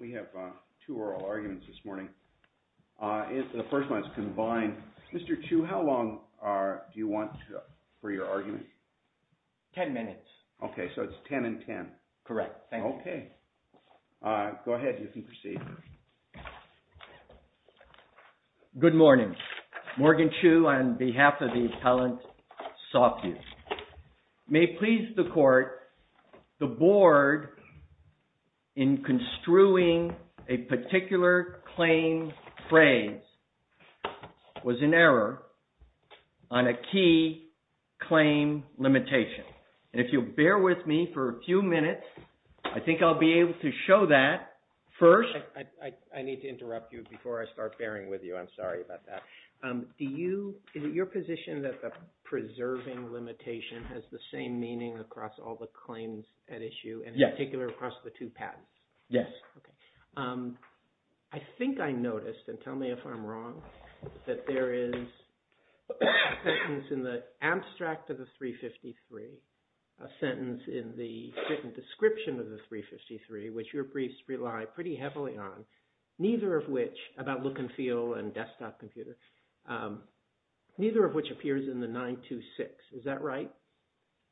We have two oral arguments this morning. The first one is combined. Mr. Chu, how long do you want for your argument? Ten minutes. Okay, so it's ten and ten. Correct. Thank you. Okay. Go ahead. You can proceed. Good morning. Morgan Chu on behalf of the Appellant Softview. May it please the Court, the Board in construing a particular claim phrase was in error on a key claim limitation. And if you'll bear with me for a few minutes, I think I'll be able to show that first. I need to interrupt you before I start bearing with you. I'm sorry about that. Is it your position that the preserving limitation has the same meaning across all the claims at issue, in particular across the two patents? Yes. Okay. I think I noticed, and tell me if I'm wrong, that there is a sentence in the abstract of the 353, a sentence in the written description of the 353, which your briefs rely pretty heavily on, neither of which – about look and feel and desktop computer – neither of which appears in the 926. Is that right?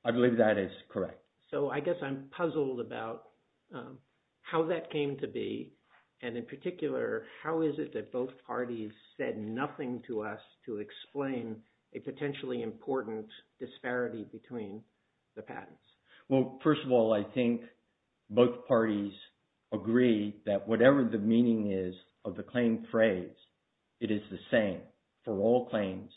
I believe that is correct. So I guess I'm puzzled about how that came to be. And in particular, how is it that both parties said nothing to us to explain a potentially important disparity between the patents? Well, first of all, I think both parties agree that whatever the meaning is of the claim phrase, it is the same for all claims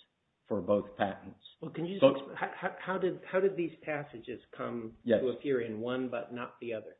for both patents. Well, can you – how did these passages come to appear in one but not the other?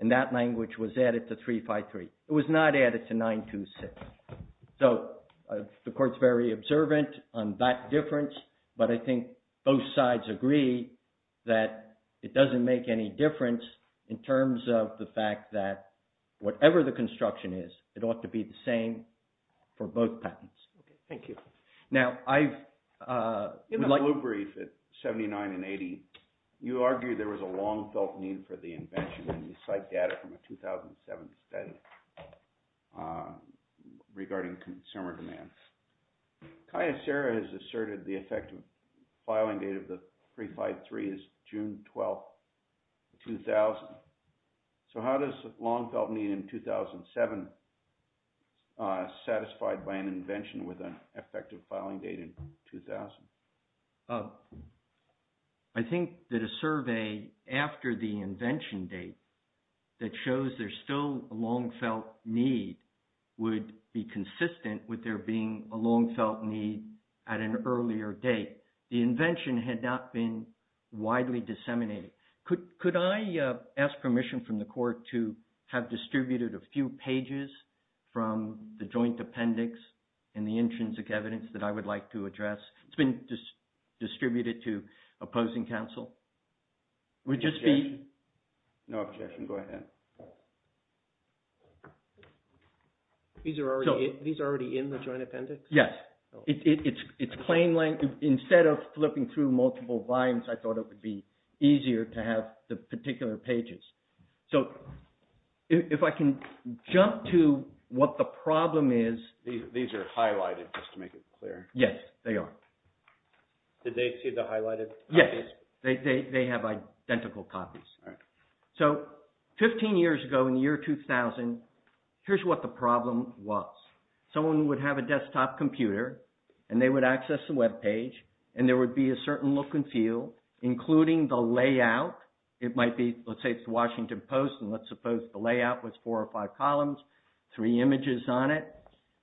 And that language was added to 353. It was not added to 926. So the Court's very observant on that difference, but I think both sides agree that it doesn't make any difference in terms of the fact that whatever the construction is, it ought to be the same for both patents. Okay. Thank you. Now, I've – In the blue brief at 79 and 80, you argue there was a long-felt need for the invention when you cite data from a 2007 study regarding consumer demand. Kaya Serra has asserted the effective filing date of the 353 is June 12, 2000. So how does long-felt need in 2007 satisfied by an invention with an effective filing date in 2000? I think that a survey after the invention date that shows there's still a long-felt need would be consistent with there being a long-felt need at an earlier date. The invention had not been widely disseminated. Could I ask permission from the Court to have distributed a few pages from the joint appendix and the intrinsic evidence that I would like to address? It's been distributed to opposing counsel. Would you speak – Objection. No objection. Go ahead. These are already in the joint appendix? Yes. It's plain language. Instead of flipping through multiple volumes, I thought it would be easier to have the particular pages. So if I can jump to what the problem is – These are highlighted, just to make it clear. Yes, they are. Did they see the highlighted copies? Yes. They have identical copies. All right. So 15 years ago, in the year 2000, here's what the problem was. Someone would have a desktop computer, and they would access the webpage, and there would be a certain look and feel, including the layout. It might be – let's say it's the Washington Post, and let's suppose the layout was four or five columns, three images on it,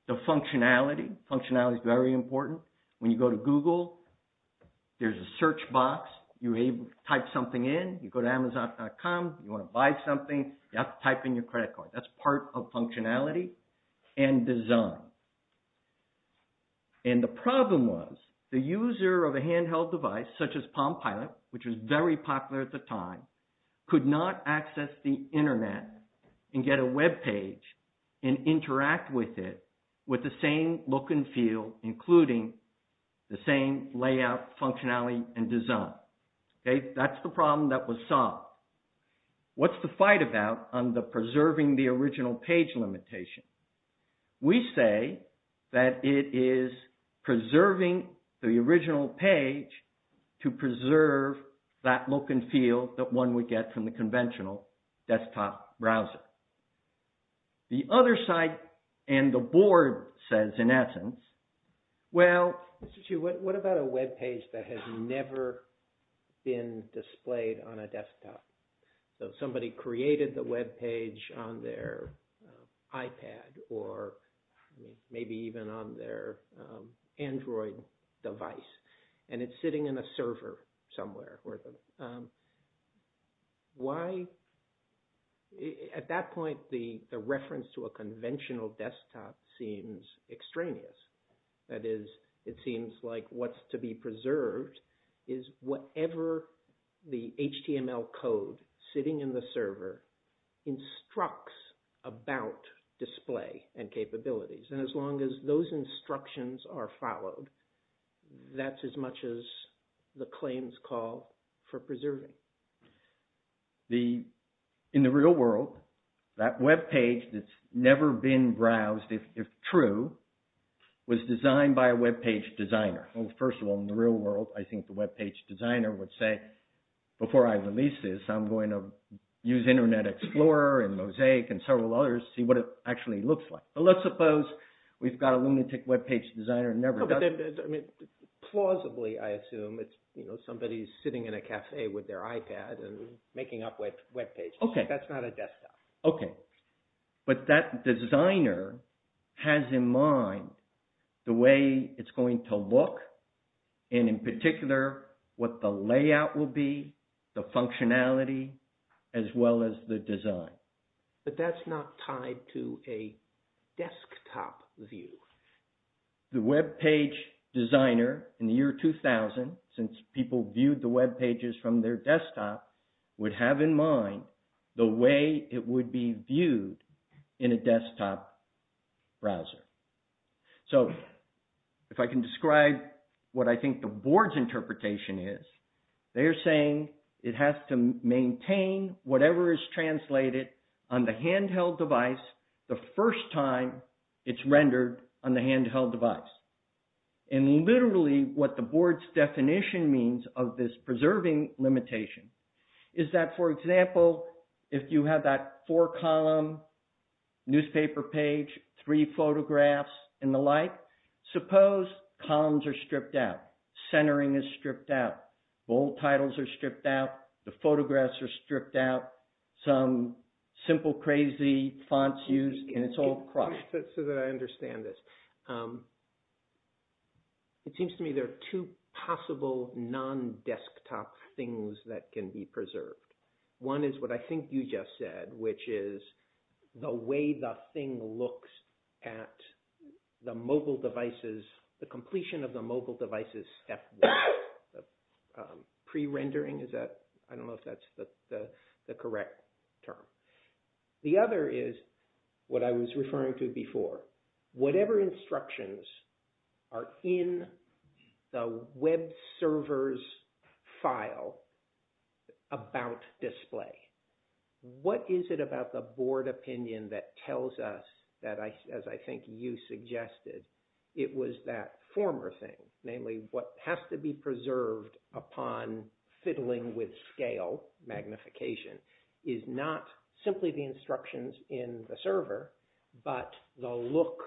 the functionality. Functionality is very important. When you go to Google, there's a search box. You type something in. You go to Amazon.com. You want to buy something, you have to type in your credit card. That's part of functionality and design. And the problem was the user of a handheld device, such as PalmPilot, which was very popular at the time, could not access the internet and get a webpage and interact with it with the same look and feel, including the same layout, functionality, and design. That's the problem that was solved. What's the fight about on the preserving the original page limitation? We say that it is preserving the original page to preserve that look and feel that one would get from the conventional desktop browser. The other side and the board says, in essence, well, what about a webpage that has never been displayed on a desktop? Somebody created the webpage on their iPad or maybe even on their Android device, and it's sitting in a server somewhere. At that point, the reference to a conventional desktop seems extraneous. That is, it seems like what's to be preserved is whatever the HTML code sitting in the server instructs about display and capabilities. And as long as those instructions are followed, that's as much as the claims call for preserving. In the real world, that webpage that's never been browsed, if true, was designed by a webpage designer. Well, first of all, in the real world, I think the webpage designer would say, before I release this, I'm going to use Internet Explorer and Mosaic and several others to see what it actually looks like. But let's suppose we've got a lunatic webpage designer and never done it. I mean, plausibly, I assume it's somebody sitting in a cafe with their iPad and making up webpages. That's not a desktop. Okay. But that designer has in mind the way it's going to look and, in particular, what the layout will be, the functionality, as well as the design. But that's not tied to a desktop view. The webpage designer in the year 2000, since people viewed the webpages from their desktop, would have in mind the way it would be viewed in a desktop browser. So, if I can describe what I think the board's interpretation is, they're saying it has to maintain whatever is translated on the handheld device the first time it's rendered on the handheld device. And literally, what the board's definition means of this preserving limitation is that, for example, if you have that four-column newspaper page, three photographs, and the like, suppose columns are stripped out, centering is stripped out, bold titles are stripped out, the photographs are stripped out, some simple crazy fonts used, and it's all crushed. So that I understand this. It seems to me there are two possible non-desktop things that can be preserved. One is what I think you just said, which is the way the thing looks at the mobile devices, the completion of the mobile devices step one. Pre-rendering, I don't know if that's the correct term. The other is what I was referring to before, whatever instructions are in the web servers file about display. What is it about the board opinion that tells us that, as I think you suggested, it was that former thing, namely what has to be preserved upon fiddling with scale, magnification, is not simply the instructions in the server, but the look,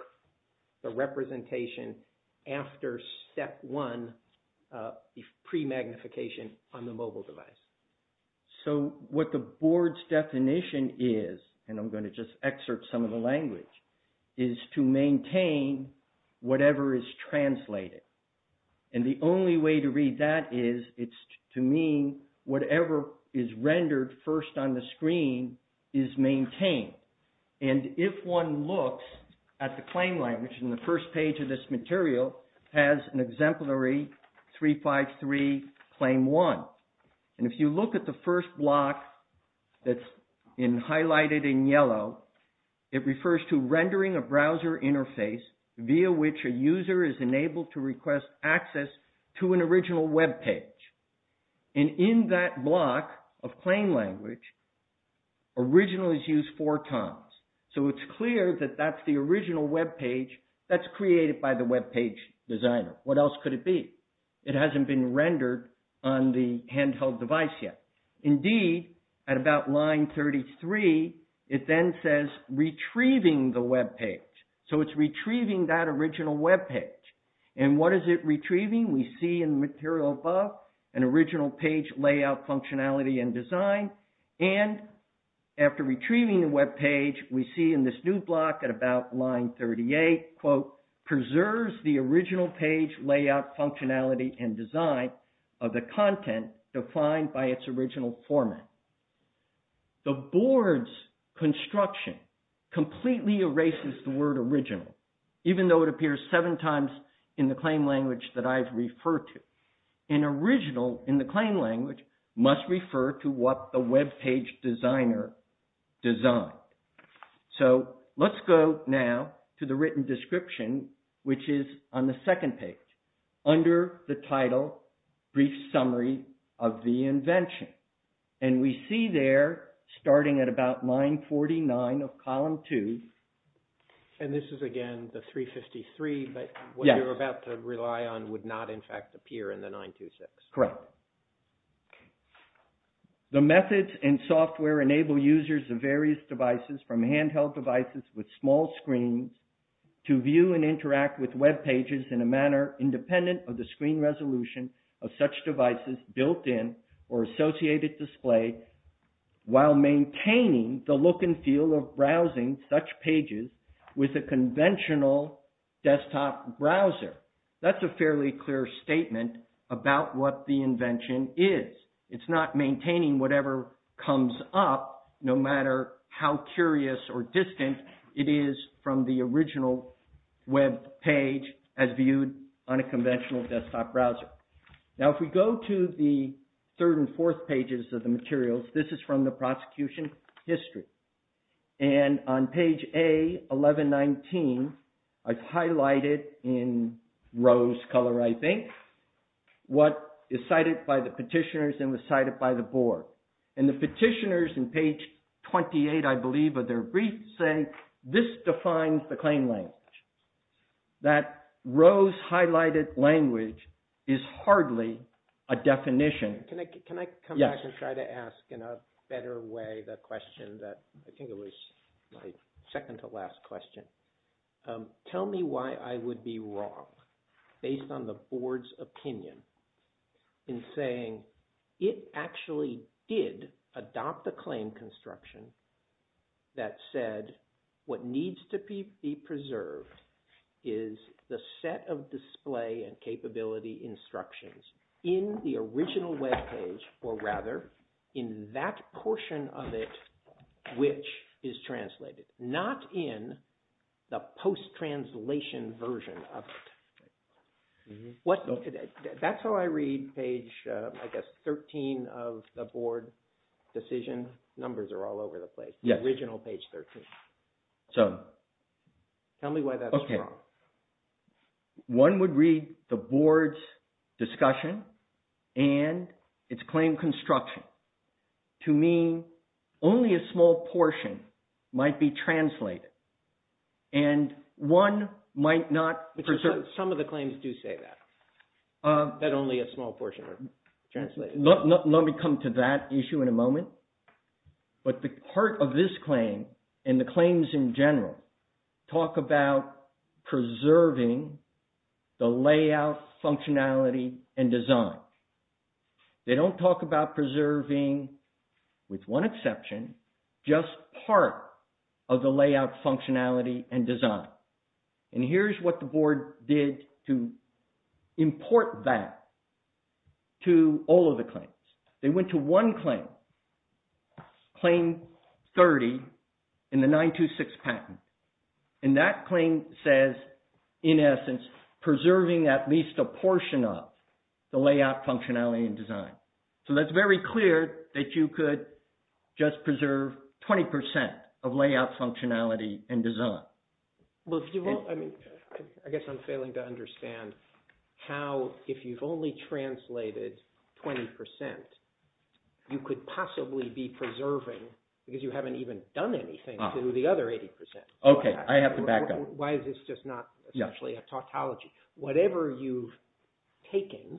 the representation after step one, the pre-magnification on the mobile device. So what the board's definition is, and I'm going to just excerpt some of the language, is to maintain whatever is translated. And the only way to read that is it's to mean whatever is rendered first on the screen is maintained. And if one looks at the claim language in the first page of this material, it has an exemplary 353 claim one. And if you look at the first block that's highlighted in yellow, it refers to rendering a browser interface via which a user is enabled to request access to an original web page. And in that block of claim language, original is used four times. So it's clear that that's the original web page that's created by the web page designer. What else could it be? It hasn't been rendered on the handheld device yet. Indeed, at about line 33, it then says retrieving the web page. So it's retrieving that original web page. And what is it retrieving? We see in the material above an original page layout functionality and design. And after retrieving the web page, we see in this new block at about line 38, quote, preserves the original page layout functionality and design of the content defined by its original format. The board's construction completely erases the word original, even though it appears seven times in the claim language that I've referred to. An original in the claim language must refer to what the web page designer designed. So let's go now to the written description, which is on the second page under the title Brief Summary of the Invention. And we see there, starting at about line 49 of column 2. And this is, again, the 353, but what you're about to rely on would not, in fact, appear in the 926. Correct. The methods and software enable users of various devices, from handheld devices with small screens, to view and interact with web pages in a manner independent of the screen resolution of such devices built in or associated display, while maintaining the look and feel of browsing such pages with a conventional desktop browser. That's a fairly clear statement about what the invention is. It's not maintaining whatever comes up, no matter how curious or distant it is from the original web page as viewed on a conventional desktop browser. Now if we go to the third and fourth pages of the materials, this is from the prosecution history. And on page A, 1119, I've highlighted in rose color, I think, what is cited by the petitioners and was cited by the board. And the petitioners in page 28, I believe, of their brief say, this defines the claim language. That rose highlighted language is hardly a definition. Can I come back and try to ask in a better way the question that I think it was my second to last question. Tell me why I would be wrong, based on the board's opinion, in saying it actually did adopt the claim construction that said, what needs to be preserved is the set of display and capability instructions in the original web page, or rather, in that portion of it, which is translated. Not in the post-translation version of it. That's how I read page, I guess, 13 of the board decision. Numbers are all over the place. The original page 13. So tell me why that's wrong. One would read the board's discussion and its claim construction to mean only a small portion might be translated. And one might not preserve. Some of the claims do say that, that only a small portion are translated. Let me come to that issue in a moment. But the heart of this claim, and the claims in general, talk about preserving the layout functionality and design. They don't talk about preserving, with one exception, just part of the layout functionality and design. And here's what the board did to import that to all of the claims. They went to one claim, claim 30 in the 926 patent. And that claim says, in essence, preserving at least a portion of the layout functionality and design. So that's very clear that you could just preserve 20% of layout functionality and design. I guess I'm failing to understand how, if you've only translated 20%, you could possibly be preserving, because you haven't even done anything to the other 80%. Okay, I have to back up. Why is this just not essentially a tautology? Whatever you've taken,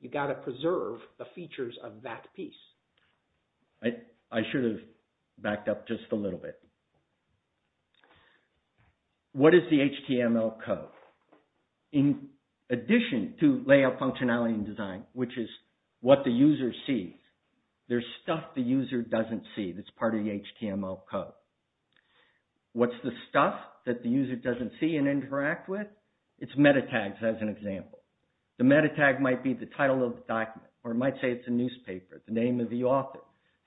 you've got to preserve the features of that piece. I should have backed up just a little bit. What is the HTML code? In addition to layout functionality and design, which is what the user sees, there's stuff the user doesn't see that's part of the HTML code. What's the stuff that the user doesn't see and interact with? It's metatags, as an example. The metatag might be the title of the document, or it might say it's a newspaper, the name of the author.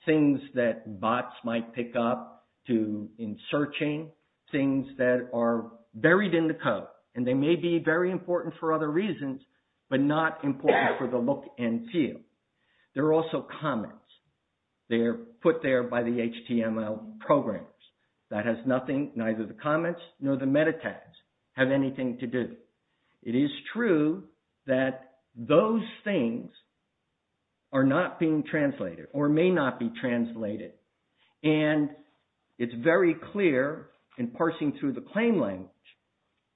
Things that bots might pick up in searching, things that are buried in the code. And they may be very important for other reasons, but not important for the look and feel. There are also comments. They're put there by the HTML programmers. That has nothing, neither the comments nor the metatags, have anything to do. It is true that those things are not being translated, or may not be translated. And it's very clear in parsing through the claim language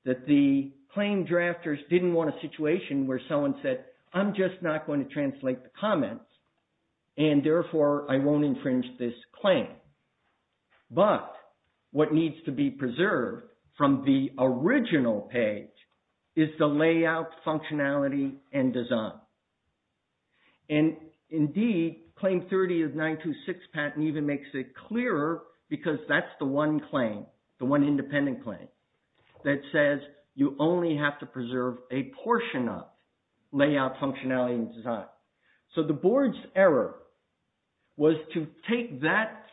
that the claim drafters didn't want a situation where someone said, I'm just not going to translate the comments, and therefore I won't infringe this claim. But what needs to be preserved from the original page is the layout, functionality, and design. And indeed, Claim 30 of 926 patent even makes it clearer because that's the one claim, the one independent claim, that says you only have to preserve a portion of layout, functionality, and design. So the board's error was to take that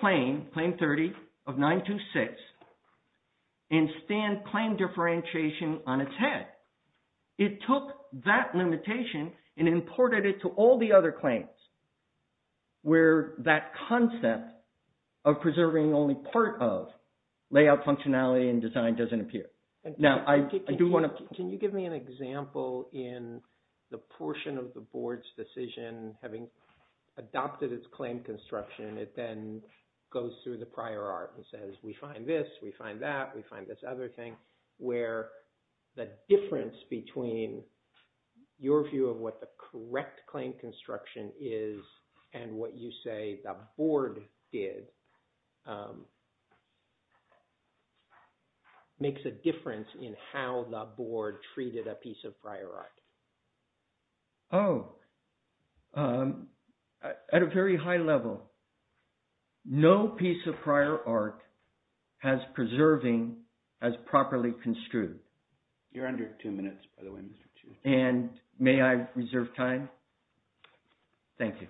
claim, Claim 30 of 926, and stand claim differentiation on its head. It took that limitation and imported it to all the other claims where that concept of preserving only part of layout, functionality, and design doesn't appear. Can you give me an example in the portion of the board's decision having adopted its claim construction, it then goes through the prior art and says, we find this, we find that, we find this other thing, where the difference between your view of what the correct claim construction is and what you say the board did makes a difference in how the board treated a piece of prior art. Oh, at a very high level, no piece of prior art has preserving as properly construed. You're under two minutes, by the way, Mr. Chief. And may I reserve time? Thank you.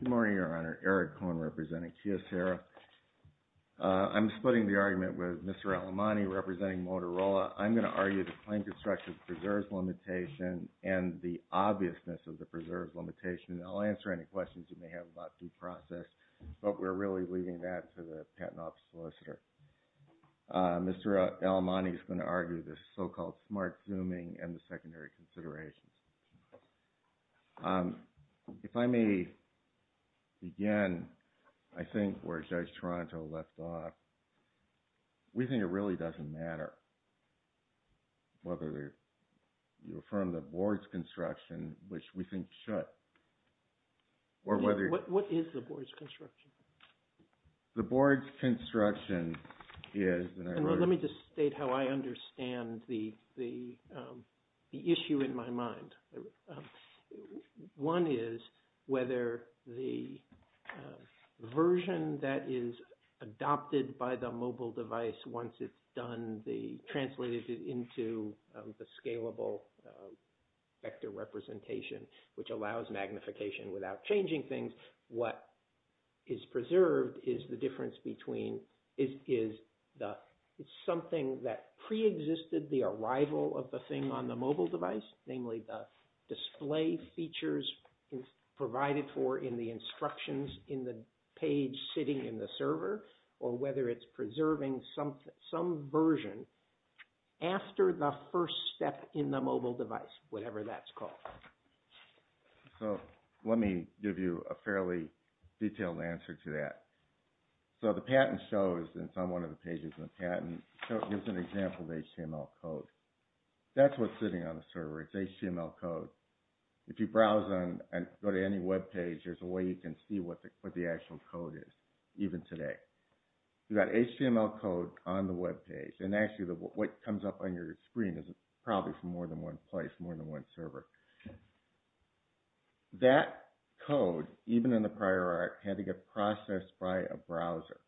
Good morning, Your Honor. Eric Cohen, representing Kiyosera. I'm splitting the argument with Mr. Alemani, representing Motorola. I'm going to argue the claim construction preserves limitation and the obviousness of the preserves limitation. I'll answer any questions you may have about due process, but we're really leaving that to the patent office solicitor. Mr. Alemani is going to argue the so-called smart zooming and the secondary considerations. If I may, again, I think where Judge Toronto left off, we think it really doesn't matter whether you affirm the board's construction, which we think should, or whether – What is the board's construction? The board's construction is – Let me just state how I understand the issue in my mind. One is whether the version that is adopted by the mobile device, once it's done, translated into the scalable vector representation, which allows magnification without changing things, what is preserved is the difference between – it's something that preexisted the arrival of the thing on the mobile device, namely the display features provided for in the instructions in the page sitting in the server, or whether it's preserving some version after the first step in the mobile device, whatever that's called. Let me give you a fairly detailed answer to that. The patent shows, and it's on one of the pages in the patent, it gives an example of HTML code. That's what's sitting on the server. It's HTML code. If you browse and go to any webpage, there's a way you can see what the actual code is, even today. You've got HTML code on the webpage. Actually, what comes up on your screen is probably from more than one place, more than one server. That code, even in the prior art, had to get processed by a browser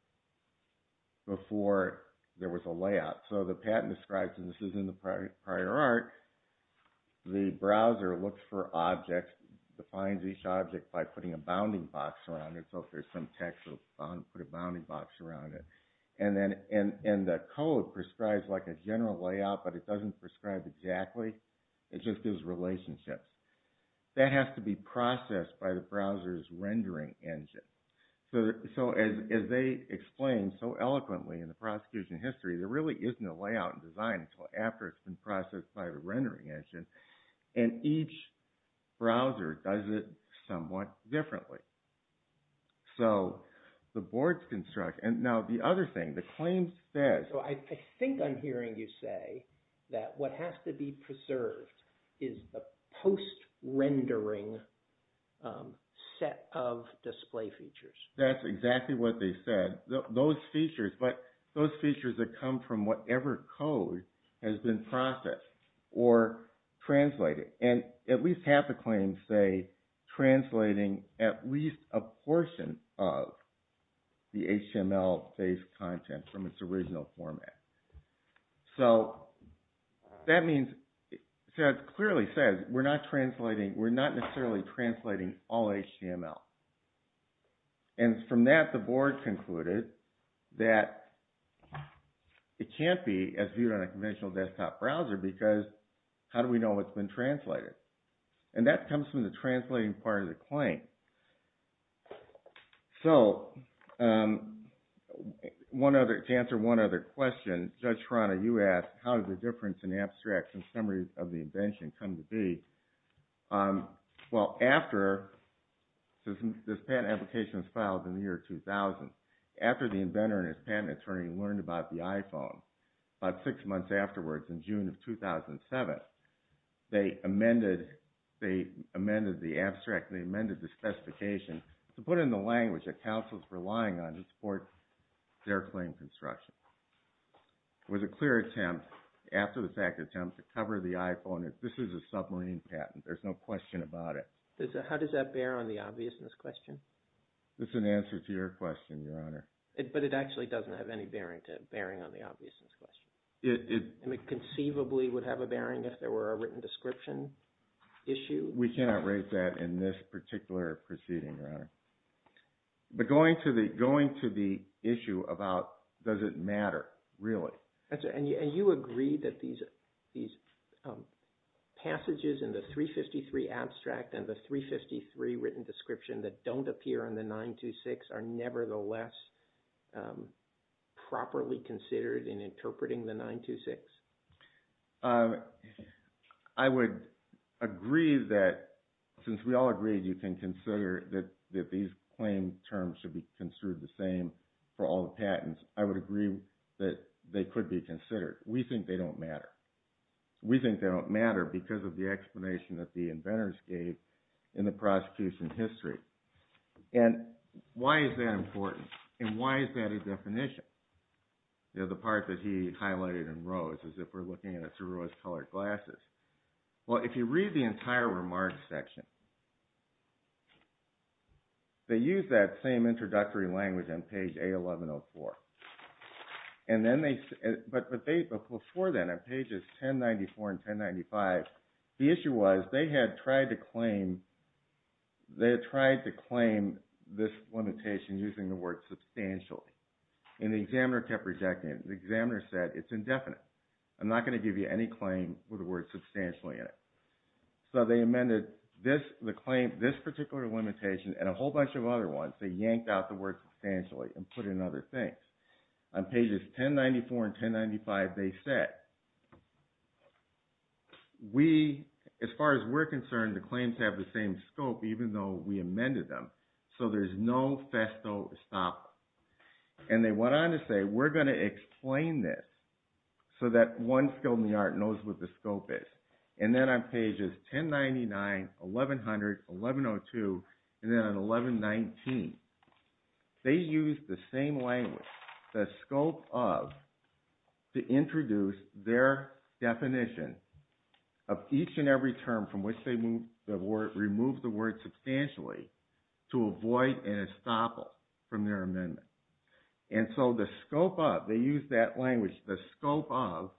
before there was a layout. The patent describes, and this is in the prior art, the browser looks for objects, defines each object by putting a bounding box around it. So if there's some text, it'll put a bounding box around it. The code prescribes a general layout, but it doesn't prescribe exactly. It just gives relationships. That has to be processed by the browser's rendering engine. As they explain so eloquently in the prosecution history, there really isn't a layout in design until after it's been processed by the rendering engine. And each browser does it somewhat differently. So the boards construct. Now, the other thing, the claim says... I think I'm hearing you say that what has to be preserved is the post-rendering set of display features. That's exactly what they said. Those features that come from whatever code has been processed or translated. And at least half the claims say translating at least a portion of the HTML-based content from its original format. So that means, it clearly says we're not necessarily translating all HTML. And from that, the board concluded that it can't be as viewed on a conventional desktop browser because how do we know what's been translated? And that comes from the translating part of the claim. So, to answer one other question, Judge Serrano, you asked, how did the difference in abstracts and summaries of the invention come to be? Well, after this patent application was filed in the year 2000, after the inventor and his patent attorney learned about the iPhone, about six months afterwards in June of 2007, they amended the abstract and they amended the specification to put in the language that counsels were relying on to support their claim construction. It was a clear attempt, after the fact attempt, to cover the iPhone. This is a submarine patent. There's no question about it. How does that bear on the obviousness question? That's an answer to your question, Your Honor. But it actually doesn't have any bearing on the obviousness question. It conceivably would have a bearing if there were a written description issue. We cannot raise that in this particular proceeding, Your Honor. But going to the issue about does it matter, really. And you agree that these passages in the 353 abstract and the 353 written description that don't appear in the 926 are nevertheless properly considered in interpreting the 926? I would agree that since we all agreed you can consider that these claim terms should be considered the same for all the patents, I would agree that they could be considered. We think they don't matter. We think they don't matter because of the explanation that the inventors gave in the prosecution history. And why is that important? And why is that a definition? The part that he highlighted in rose, as if we're looking at it through rose-colored glasses. Well, if you read the entire remarks section, they use that same introductory language on page A1104. But before then, on pages 1094 and 1095, the issue was they had tried to claim this limitation using the word substantially. And the examiner kept rejecting it. The examiner said, it's indefinite. I'm not going to give you any claim with the word substantially in it. So they amended this particular limitation and a whole bunch of other ones. They yanked out the word substantially and put in other things. On pages 1094 and 1095, they said, as far as we're concerned, the claims have the same scope even though we amended them. So there's no festo estoppel. And they went on to say, we're going to explain this so that one skilled in the art knows what the scope is. And then on pages 1099, 1100, 1102, and then on 1119, they used the same language, the scope of, to introduce their definition of each and every term from which they removed the word substantially to avoid an estoppel from their amendment. And so the scope of, they used that language, the scope of,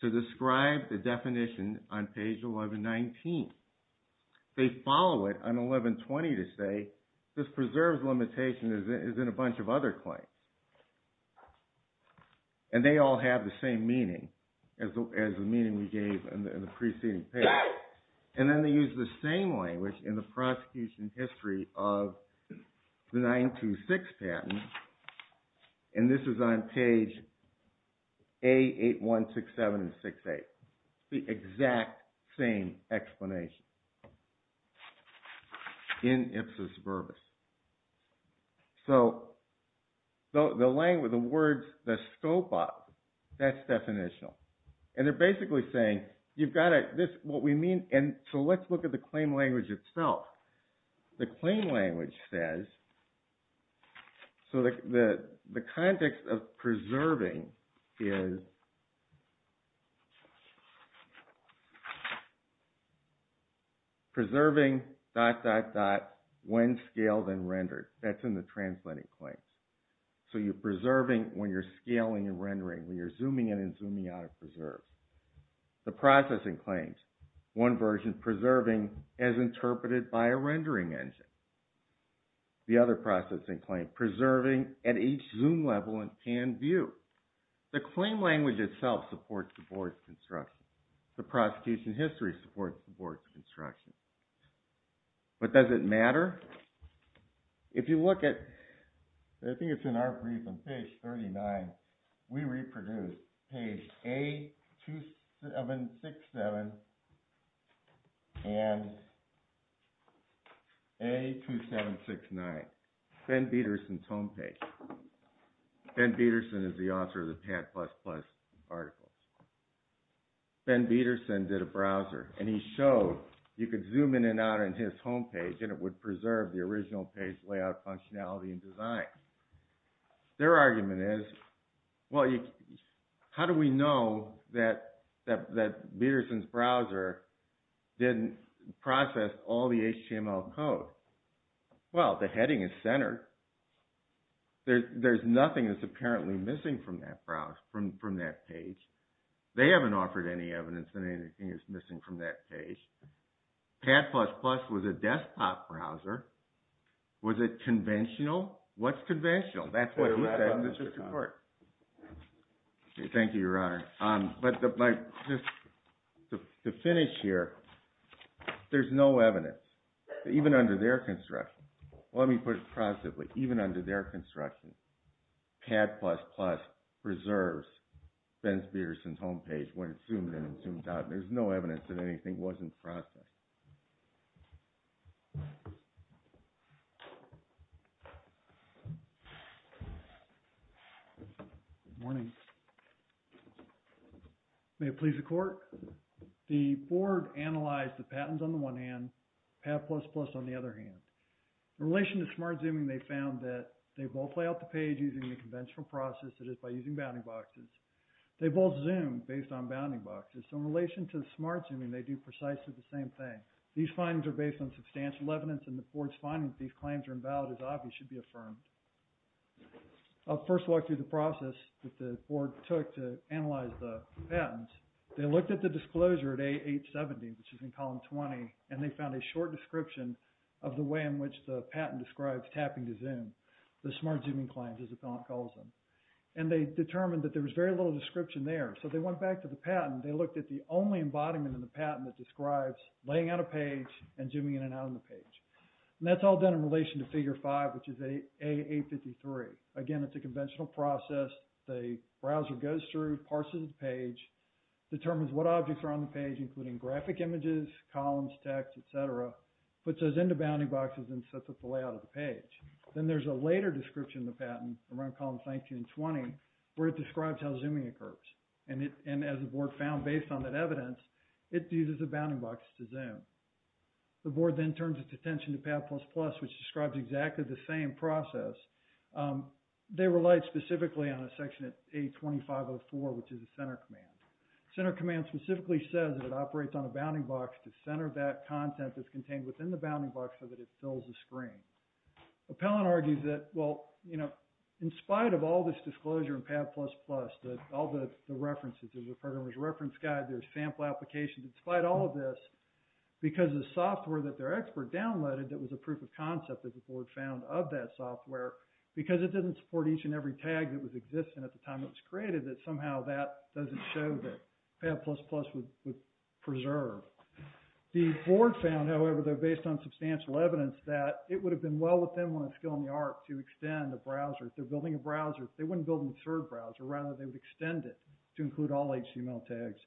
to describe the definition on page 1119. They follow it on 1120 to say, this preserves limitation as in a bunch of other claims. And they all have the same meaning as the meaning we gave in the preceding page. And then they use the same language in the prosecution history of the 926 patent. And this is on page A8167 and 68. The exact same explanation in ipsis verbis. So the language, the words, the scope of, that's definitional. And they're basically saying, you've got to, this, what we mean, and so let's look at the claim language itself. The claim language says, so the context of preserving is preserving dot, dot, dot, when scaled and rendered. That's in the translating claims. So you're preserving when you're scaling and rendering, when you're zooming in and zooming out of preserve. The processing claims, one version preserving as interpreted by a rendering engine. The other processing claim, preserving at each zoom level and view. The claim language itself supports the board's construction. The prosecution history supports the board's construction. But does it matter? If you look at, I think it's in our brief on page 39, we reproduced page A2767 and A2769. Ben Bederson's homepage. Ben Bederson is the author of the Pat++ articles. Ben Bederson did a browser and he showed, you could zoom in and out on his homepage and it would preserve the original page layout functionality and design. Their argument is, well, how do we know that Bederson's browser didn't process all the HTML code? Well, the heading is centered. There's nothing that's apparently missing from that page. They haven't offered any evidence that anything is missing from that page. Pat++ was a desktop browser. Was it conventional? What's conventional? That's what he said in the Supreme Court. Thank you, Your Honor. But to finish here, there's no evidence. Even under their construction. Let me put it possibly. Even under their construction, Pat++ preserves Ben Bederson's homepage when it's zoomed in and zoomed out. There's no evidence that anything wasn't processed. Good morning. May it please the Court. The Board analyzed the patents on the one hand, Pat++ on the other hand. In relation to smart zooming, they found that they both lay out the page using the conventional process, that is by using bounding boxes. They both zoom based on bounding boxes. In relation to smart zooming, they do precisely the same thing. These findings are based on substantial evidence, and the Board's finding that these claims are invalid as obvious should be affirmed. I'll first walk you through the process that the Board took to analyze the patents. They looked at the disclosure at A870, which is in column 20, and they found a short description of the way in which the patent describes tapping to zoom, the smart zooming claims, as the file calls them. And they determined that there was very little description there. So they went back to the patent. They looked at the only embodiment in the patent that describes laying out a page and zooming in and out of the page. And that's all done in relation to Figure 5, which is A853. Again, it's a conventional process. The browser goes through, parses the page, determines what objects are on the page, including graphic images, columns, text, et cetera, puts those into bounding boxes, and sets up the layout of the page. Then there's a later description in the patent, around columns 19 and 20, where it describes how zooming occurs. And as the Board found based on that evidence, it uses a bounding box to zoom. The Board then turns its attention to PAD++, which describes exactly the same process. They relied specifically on a section at A2504, which is a center command. Center command specifically says that it operates on a bounding box to center that content that's contained within the bounding box so that it fills the screen. Appellant argues that, well, you know, in spite of all this disclosure in PAD++, all the references, there's a programmer's reference guide, there's sample applications, in spite of all of this, because the software that their expert downloaded that was a proof of concept that the Board found of that software, because it didn't support each and every tag that was existent at the time it was created, that somehow that doesn't show that PAD++ would preserve. The Board found, however, though, based on substantial evidence, that it would have been well within one's skill and the art to extend the browser. If they're building a browser, they wouldn't build a third browser. Rather, they would extend it to include all HTML tags.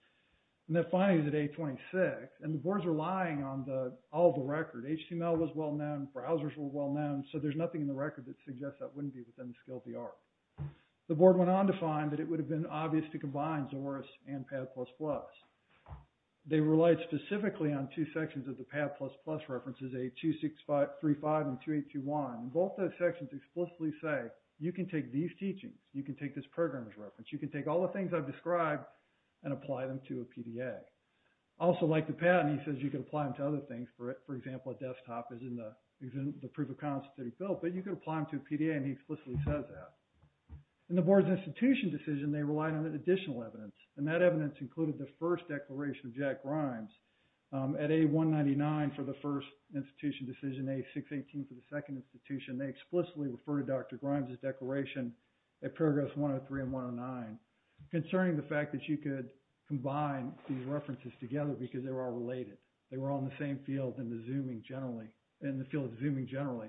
And that finally is at A26. And the Board's relying on all the record. HTML was well known. Browsers were well known. So there's nothing in the record that suggests that wouldn't be within the skill of the art. The Board went on to find that it would have been obvious to combine Zorris and PAD++. They relied specifically on two sections of the PAD++ references, A2635 and 2821. Both those sections explicitly say, you can take these teachings, you can take this program's reference, you can take all the things I've described and apply them to a PDA. Also, like the patent, he says you can apply them to other things. For example, a desktop is in the proof of concept that he built, but you can apply them to a PDA, and he explicitly says that. In the Board's institution decision, they relied on additional evidence. And that evidence included the first declaration of Jack Grimes at A199 for the first institution decision, A618 for the second institution. They explicitly referred to Dr. Grimes' declaration at paragraphs 103 and 109, concerning the fact that you could combine these references together because they were all related. They were all in the same field in the field of Zooming generally.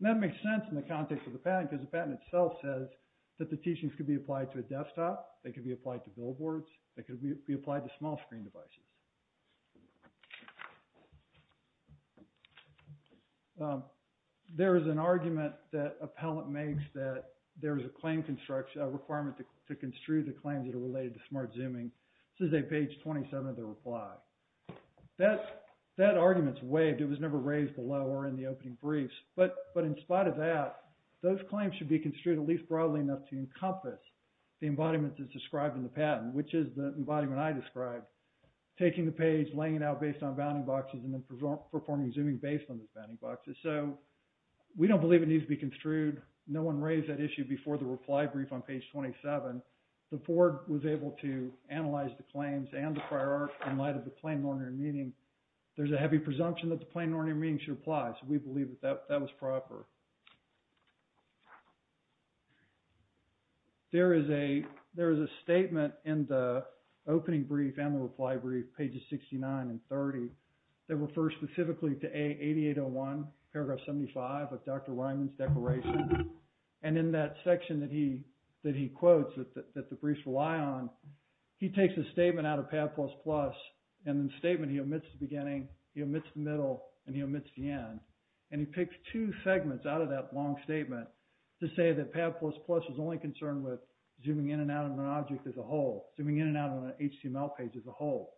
And that makes sense in the context of the patent, because the patent itself says that the teachings could be applied to a desktop, they could be applied to billboards, they could be applied to small screen devices. There is an argument that Appellant makes that there is a claim construction, a requirement to construe the claims that are related to Smart Zooming. This is at page 27 of the reply. That argument's waived. It was never raised below or in the opening briefs. But in spite of that, those claims should be construed at least broadly enough to encompass the embodiment that's described in the patent, which is the embodiment I described. Taking the page, laying it out based on bounding boxes, and then performing Zooming based on those bounding boxes. So we don't believe it needs to be construed. No one raised that issue before the reply brief on page 27. The board was able to analyze the claims and the prior art in light of the Plain and Ordinary Meeting. There's a heavy presumption that the Plain and Ordinary Meeting should apply, so we believe that that was proper. There is a statement in the opening brief and the reply brief, pages 69 and 30, that refers specifically to A8801, paragraph 75 of Dr. Ryman's declaration. And in that section that he quotes, that the briefs rely on, he takes a statement out of PAD++, and in the statement he omits the beginning, he omits the middle, and he omits the end. And he picks two segments out of that long statement to say that PAD++ is only concerned with zooming in and out of an object as a whole, zooming in and out of an HTML page as a whole.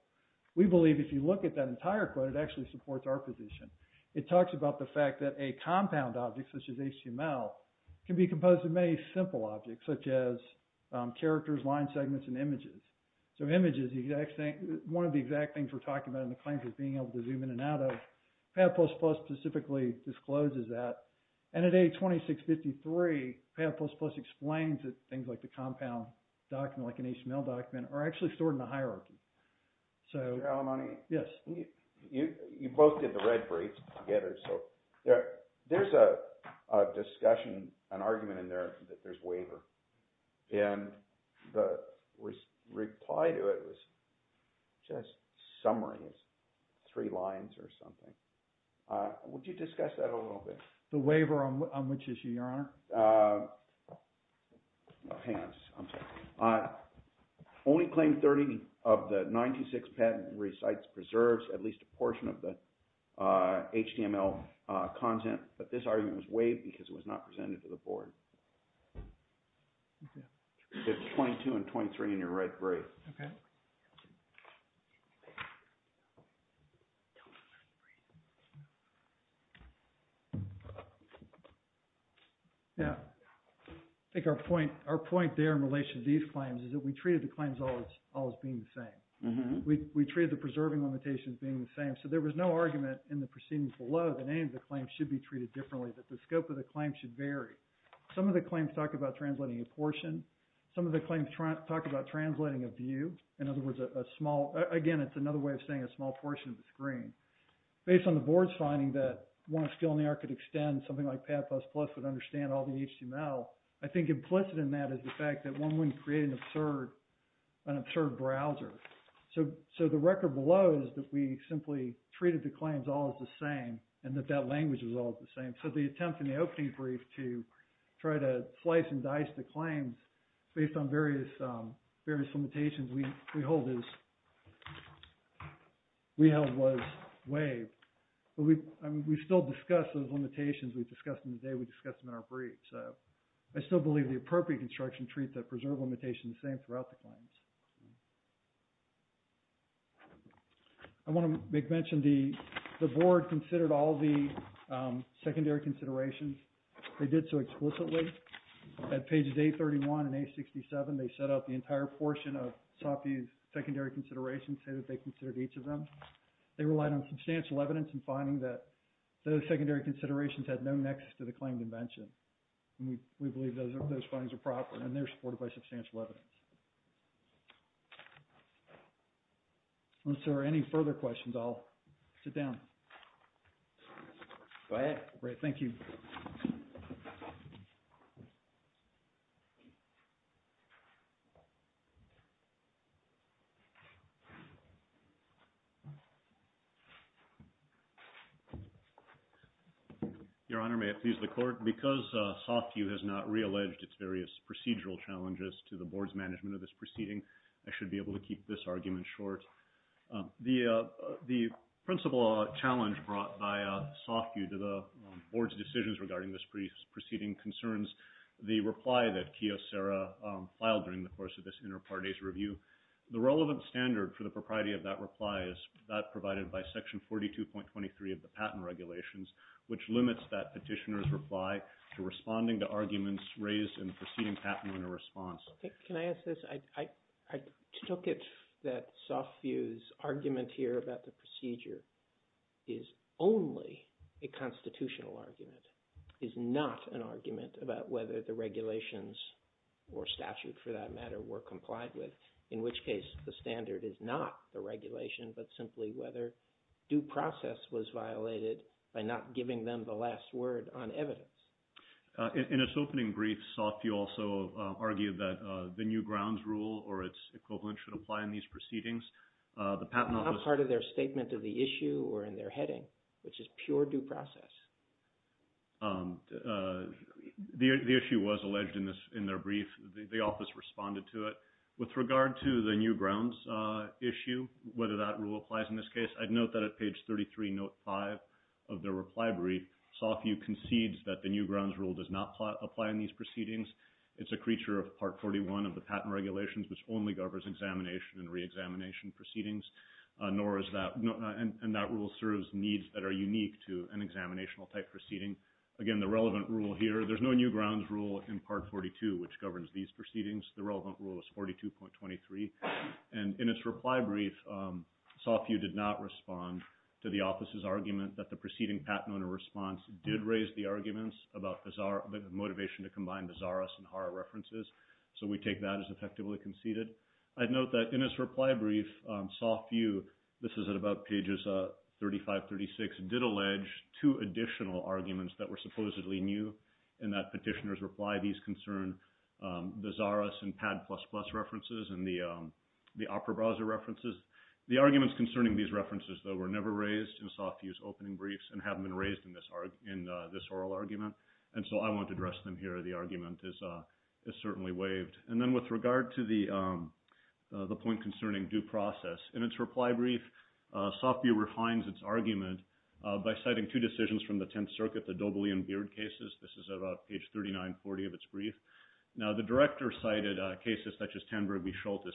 We believe if you look at that entire quote, it actually supports our position. It talks about the fact that a compound object, such as HTML, can be composed of many simple objects, such as characters, line segments, and images. So images, one of the exact things we're talking about in the claims is being able to zoom in and out of. PAD++ specifically discloses that. And at A2653, PAD++ explains that things like the compound document, like an HTML document, are actually stored in a hierarchy. So... Mr. Alimony? Yes. You both did the red briefs together, so there's a discussion, an argument in there that there's waiver. And the reply to it was just summaries, three lines or something. Would you discuss that a little bit? The waiver on which issue, Your Honor? Hang on just a second. Only claim 30 of the 96 patent recites, preserves at least a portion of the HTML content. But this argument was waived because it was not presented to the board. Okay. It's 22 and 23 in your red brief. Okay. Yeah. I think our point there in relation to these claims is that we treated the claims all as being the same. We treated the preserving limitations being the same. So there was no argument in the proceedings below that any of the claims should be treated differently, that the scope of the claim should vary. Some of the claims talk about translating a portion. Some of the claims talk about translating a view. In other words, a small... Again, it's another way of saying a small portion of the screen. Based on the board's finding that one skill in the art could extend, something like Pad++ would understand all the HTML, I think implicit in that is the fact that one wouldn't create an absurd browser. So the record below is that we simply treated the claims all as the same and that that language was all the same. So the attempt in the opening brief to try to slice and dice the claims based on various limitations we held was waived. But we still discussed those limitations. We discussed them today. We discussed them in our brief. So I still believe the appropriate construction treats that preserve limitation the same throughout the claims. I want to make mention the board considered all the secondary considerations. They did so explicitly. At pages 831 and 867, they set up the entire portion of Sophie's secondary considerations and they considered each of them. They relied on substantial evidence in finding that those secondary considerations had no nexus to the claimed invention. We believe those findings are proper and they're supported by substantial evidence. Unless there are any further questions, I'll sit down. Go ahead. Great. Thank you. Your Honor, may it please the court. Because Sophie has not realleged its various procedural challenges to the board's management of this proceeding, I should be able to keep this argument short. The principal challenge brought by Sophie to the board's decisions regarding this proceeding concerns the reply that Kiyosara filed during the course of this inter-parties review. The relevant standard for the propriety of that reply is that provided by section 42.23 of the patent regulations, which limits that petitioner's reply to responding to arguments raised in the proceeding patent in response. Can I ask this? I took it that Sophie's argument here about the procedure is only a constitutional argument, is not an argument about whether the regulations or statute for that matter were complied with, in which case the standard is not the regulation, but simply whether due process was violated by not giving them the last word on evidence. In its opening brief, Sophie also argued that the new grounds rule or its equivalent should apply in these proceedings. The patent office- Not part of their statement of the issue or in their heading, which is pure due process. The issue was alleged in their brief. The office responded to it. With regard to the new grounds issue, whether that rule applies in this case, I'd note that at page 33, note five of their reply brief, Sophie concedes that the new grounds rule does not apply in these proceedings. It's a creature of part 41 of the patent regulations, which only governs examination and reexamination proceedings, and that rule serves needs that are unique to an examinational type proceeding. Again, the relevant rule here, there's no new grounds rule in part 42, which governs these proceedings. The relevant rule is 42.23. And in its reply brief, Sophie did not respond to the office's argument that the proceeding patent owner response did raise the arguments about the motivation to combine the Zaras and Hara references. So we take that as effectively conceded. I'd note that in his reply brief, Sophie, this is at about pages 35, 36, did allege two additional arguments that were supposedly new, and that petitioner's reply, these concern the Zaras and Pad++ The arguments concerning these references, though, were never raised in Sophie's opening briefs and haven't been raised in this oral argument. And so I won't address them here. The argument is certainly waived. And then with regard to the point concerning due process, in its reply brief, Sophie refines its argument by citing two decisions from the 10th circuit, the Dobley and Beard cases. This is about page 39, 40 of its brief. Schultes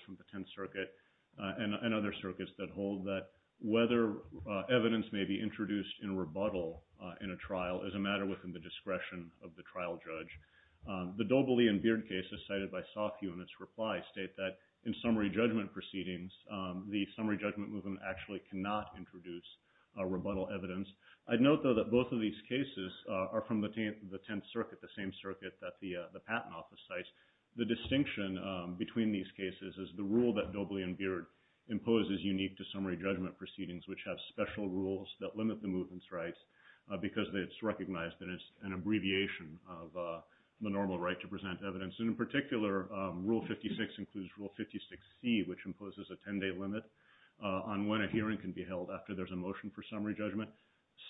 from the 10th circuit, and other circuits that hold that whether evidence may be introduced in rebuttal in a trial is a matter within the discretion of the trial judge. The Dobley and Beard cases cited by Sophie in its reply state that in summary judgment proceedings, the summary judgment movement actually cannot introduce a rebuttal evidence. I'd note, though, that both of these cases are from the 10th circuit, the same circuit that the patent office cites. The distinction between these cases is the rule that Dobley and Beard imposes unique to summary judgment proceedings, which have special rules that limit the movement's rights because it's recognized that it's an abbreviation of the normal right to present evidence. And in particular, rule 56 includes rule 56C, which imposes a 10-day limit on when a hearing can be held after there's a motion for summary judgment.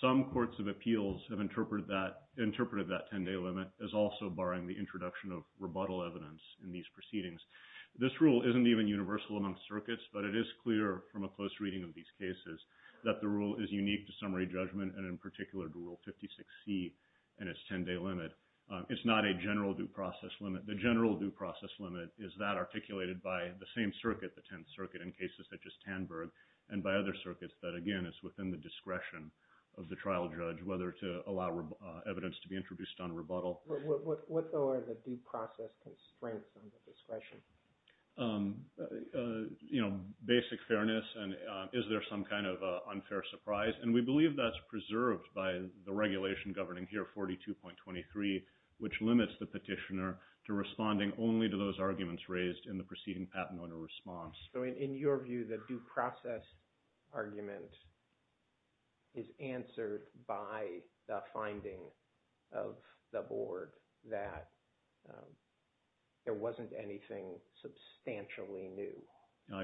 Some courts of appeals have interpreted that 10-day limit as also barring the introduction of rebuttal evidence in these proceedings. This rule isn't even universal among circuits, but it is clear from a close reading of these cases that the rule is unique to summary judgment, and in particular to rule 56C and its 10-day limit. It's not a general due process limit. The general due process limit is that articulated by the same circuit, the 10th circuit, in cases such as Tanberg and by other circuits that, again, is within the discretion of the trial judge, whether to allow evidence to be introduced on rebuttal. What, though, are the due process constraints on the discretion? Basic fairness and is there some kind of unfair surprise? And we believe that's preserved by the regulation governing here, 42.23, which limits the petitioner to responding only to those arguments raised in the preceding patent owner response. So in your view, the due process argument is answered by the finding of the board that there wasn't anything substantially new.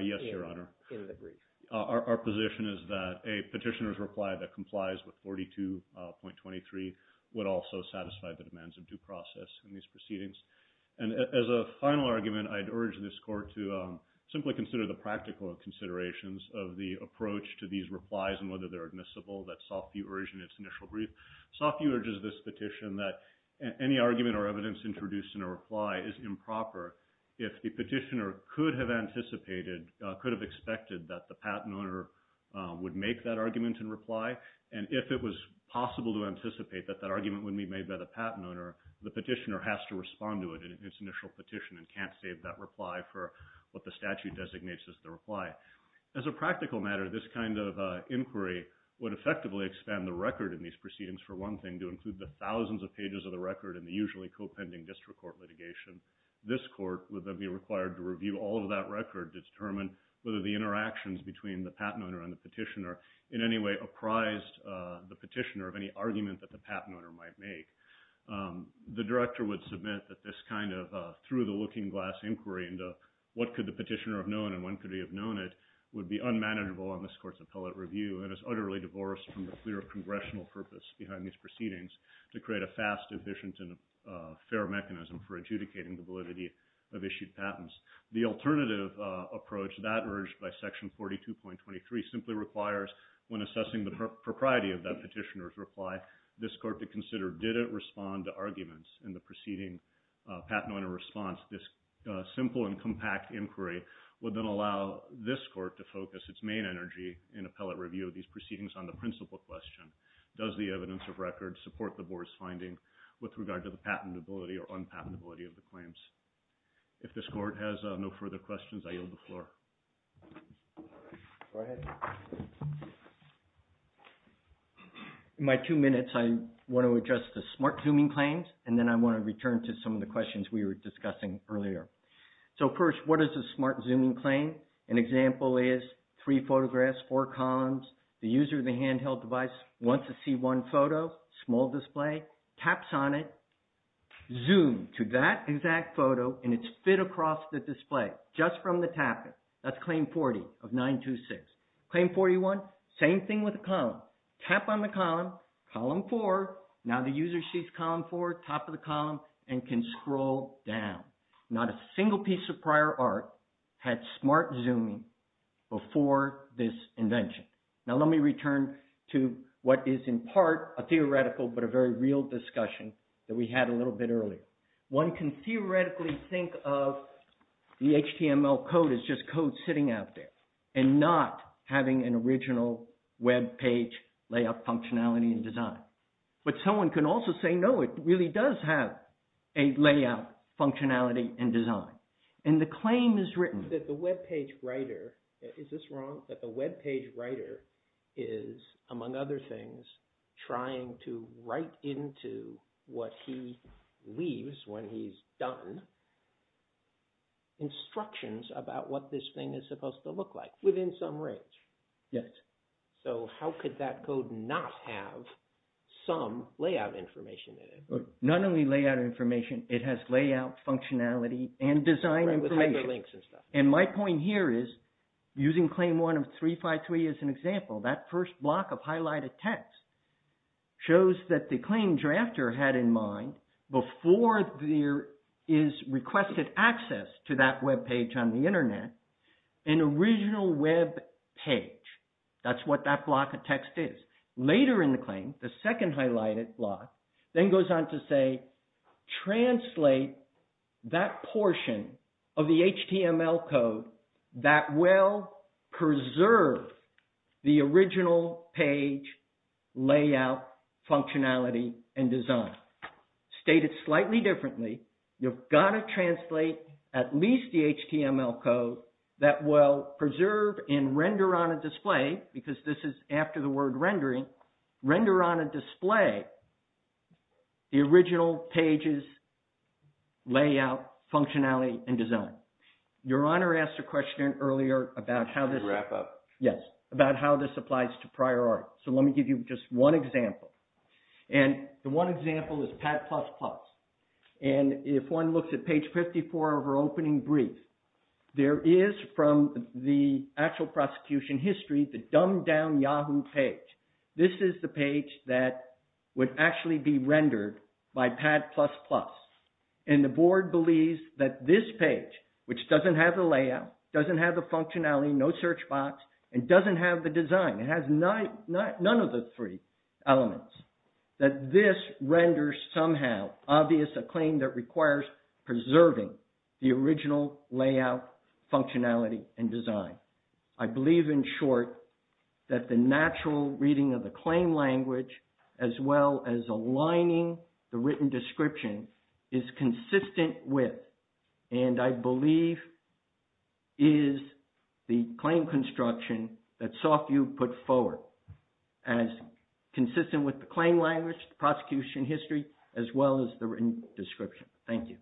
Yes, Your Honor. In the brief. Our position is that a petitioner's reply that complies with 42.23 would also satisfy the demands of due process in these proceedings. And as a final argument, I'd urge this court to simply consider the practical considerations of the approach to these replies and whether they're admissible. That's Softview urge in its initial brief. Softview urges this petition that any argument or evidence introduced in a reply is improper. If the petitioner could have anticipated, could have expected that the patent owner would make that argument in reply, and if it was possible to anticipate that that argument would be made by the patent owner, the petitioner has to respond to it in its initial petition and can't save that reply for what the statute designates as the reply. As a practical matter, this kind of inquiry would effectively expand the record in these proceedings for one thing to include the thousands of pages of the record and the usually co-pending district court litigation. This court would then be required to review all of that record, determine whether the interactions between the patent owner and the petitioner in any way apprised the petitioner of any argument that the patent owner might make. The director would submit that this kind of through the looking glass inquiry into what could the petitioner have known and when could he have known it would be unmanageable on this court's appellate review and is utterly divorced from the clear congressional purpose behind these proceedings to create a fast, efficient and fair mechanism for adjudicating the validity of issued patents. The alternative approach that urged by section 42.23 simply requires when assessing the propriety of that petitioner's reply, this court to consider did it respond to arguments in the preceding patent owner response. This simple and compact inquiry would then allow this court to focus its main energy in appellate review of these proceedings on the principal question. Does the evidence of record support the board's finding with regard to the patentability or unpatentability of the claims? If this court has no further questions, I yield the floor. Go ahead. In my two minutes, I want to address the smart zooming claims and then I want to return to some of the questions we were discussing earlier. So first, what is a smart zooming claim? An example is three photographs, four columns. The user of the handheld device wants to see one photo, small display, taps on it, zoom to that exact photo and it's fit across the display just from the tapping. That's claim 40 of 926. Claim 41, same thing with the column. Tap on the column, column four, now the user sees column four, top of the column and can scroll down. Not a single piece of prior art had smart zooming before this invention. Now let me return to what is in part a theoretical but a very real discussion that we had a little bit earlier. One can theoretically think of the HTML code as just code sitting out there and not having an original web page layout functionality and design. But someone can also say, no, it really does have a layout functionality and design. And the claim is written that the web page writer, is this wrong, that the web page writer is among other things, trying to write into what he leaves when he's done instructions about what this thing is supposed to look like within some range. Yes. So how could that code not have some layout information in it? Not only layout information, it has layout functionality and design information. And my point here is using claim one of 353 as an example, that first block of highlighted text shows that the claim drafter had in mind before there is requested access to that web page on the internet, an original web page. That's what that block of text is. Later in the claim, the second highlighted block then goes on to say, translate that portion of the HTML code that will preserve the original page layout functionality and design. State it slightly differently. You've got to translate at least the HTML code that will preserve and render on a display, because this is after the word rendering, render on a display the original pages, layout functionality and design. Your Honor asked a question earlier about how this. Wrap up. Yes. About how this applies to prior art. So let me give you just one example. And the one example is pad plus plus. And if one looks at page 54 of our opening brief, there is from the actual prosecution history, the dumbed down Yahoo page. This is the page that would actually be rendered by pad plus plus. And the board believes that this page, which doesn't have the layout, doesn't have the functionality, no search box and doesn't have the design. It has none of the three elements. That this renders somehow obvious a claim that requires preserving the original layout functionality and design. I believe in short that the natural reading of the claim language, as well as aligning the written description is consistent with, and I believe is the claim construction that Sophie put forward as consistent with the claim language, the prosecution history, as well as the written description. Thank you.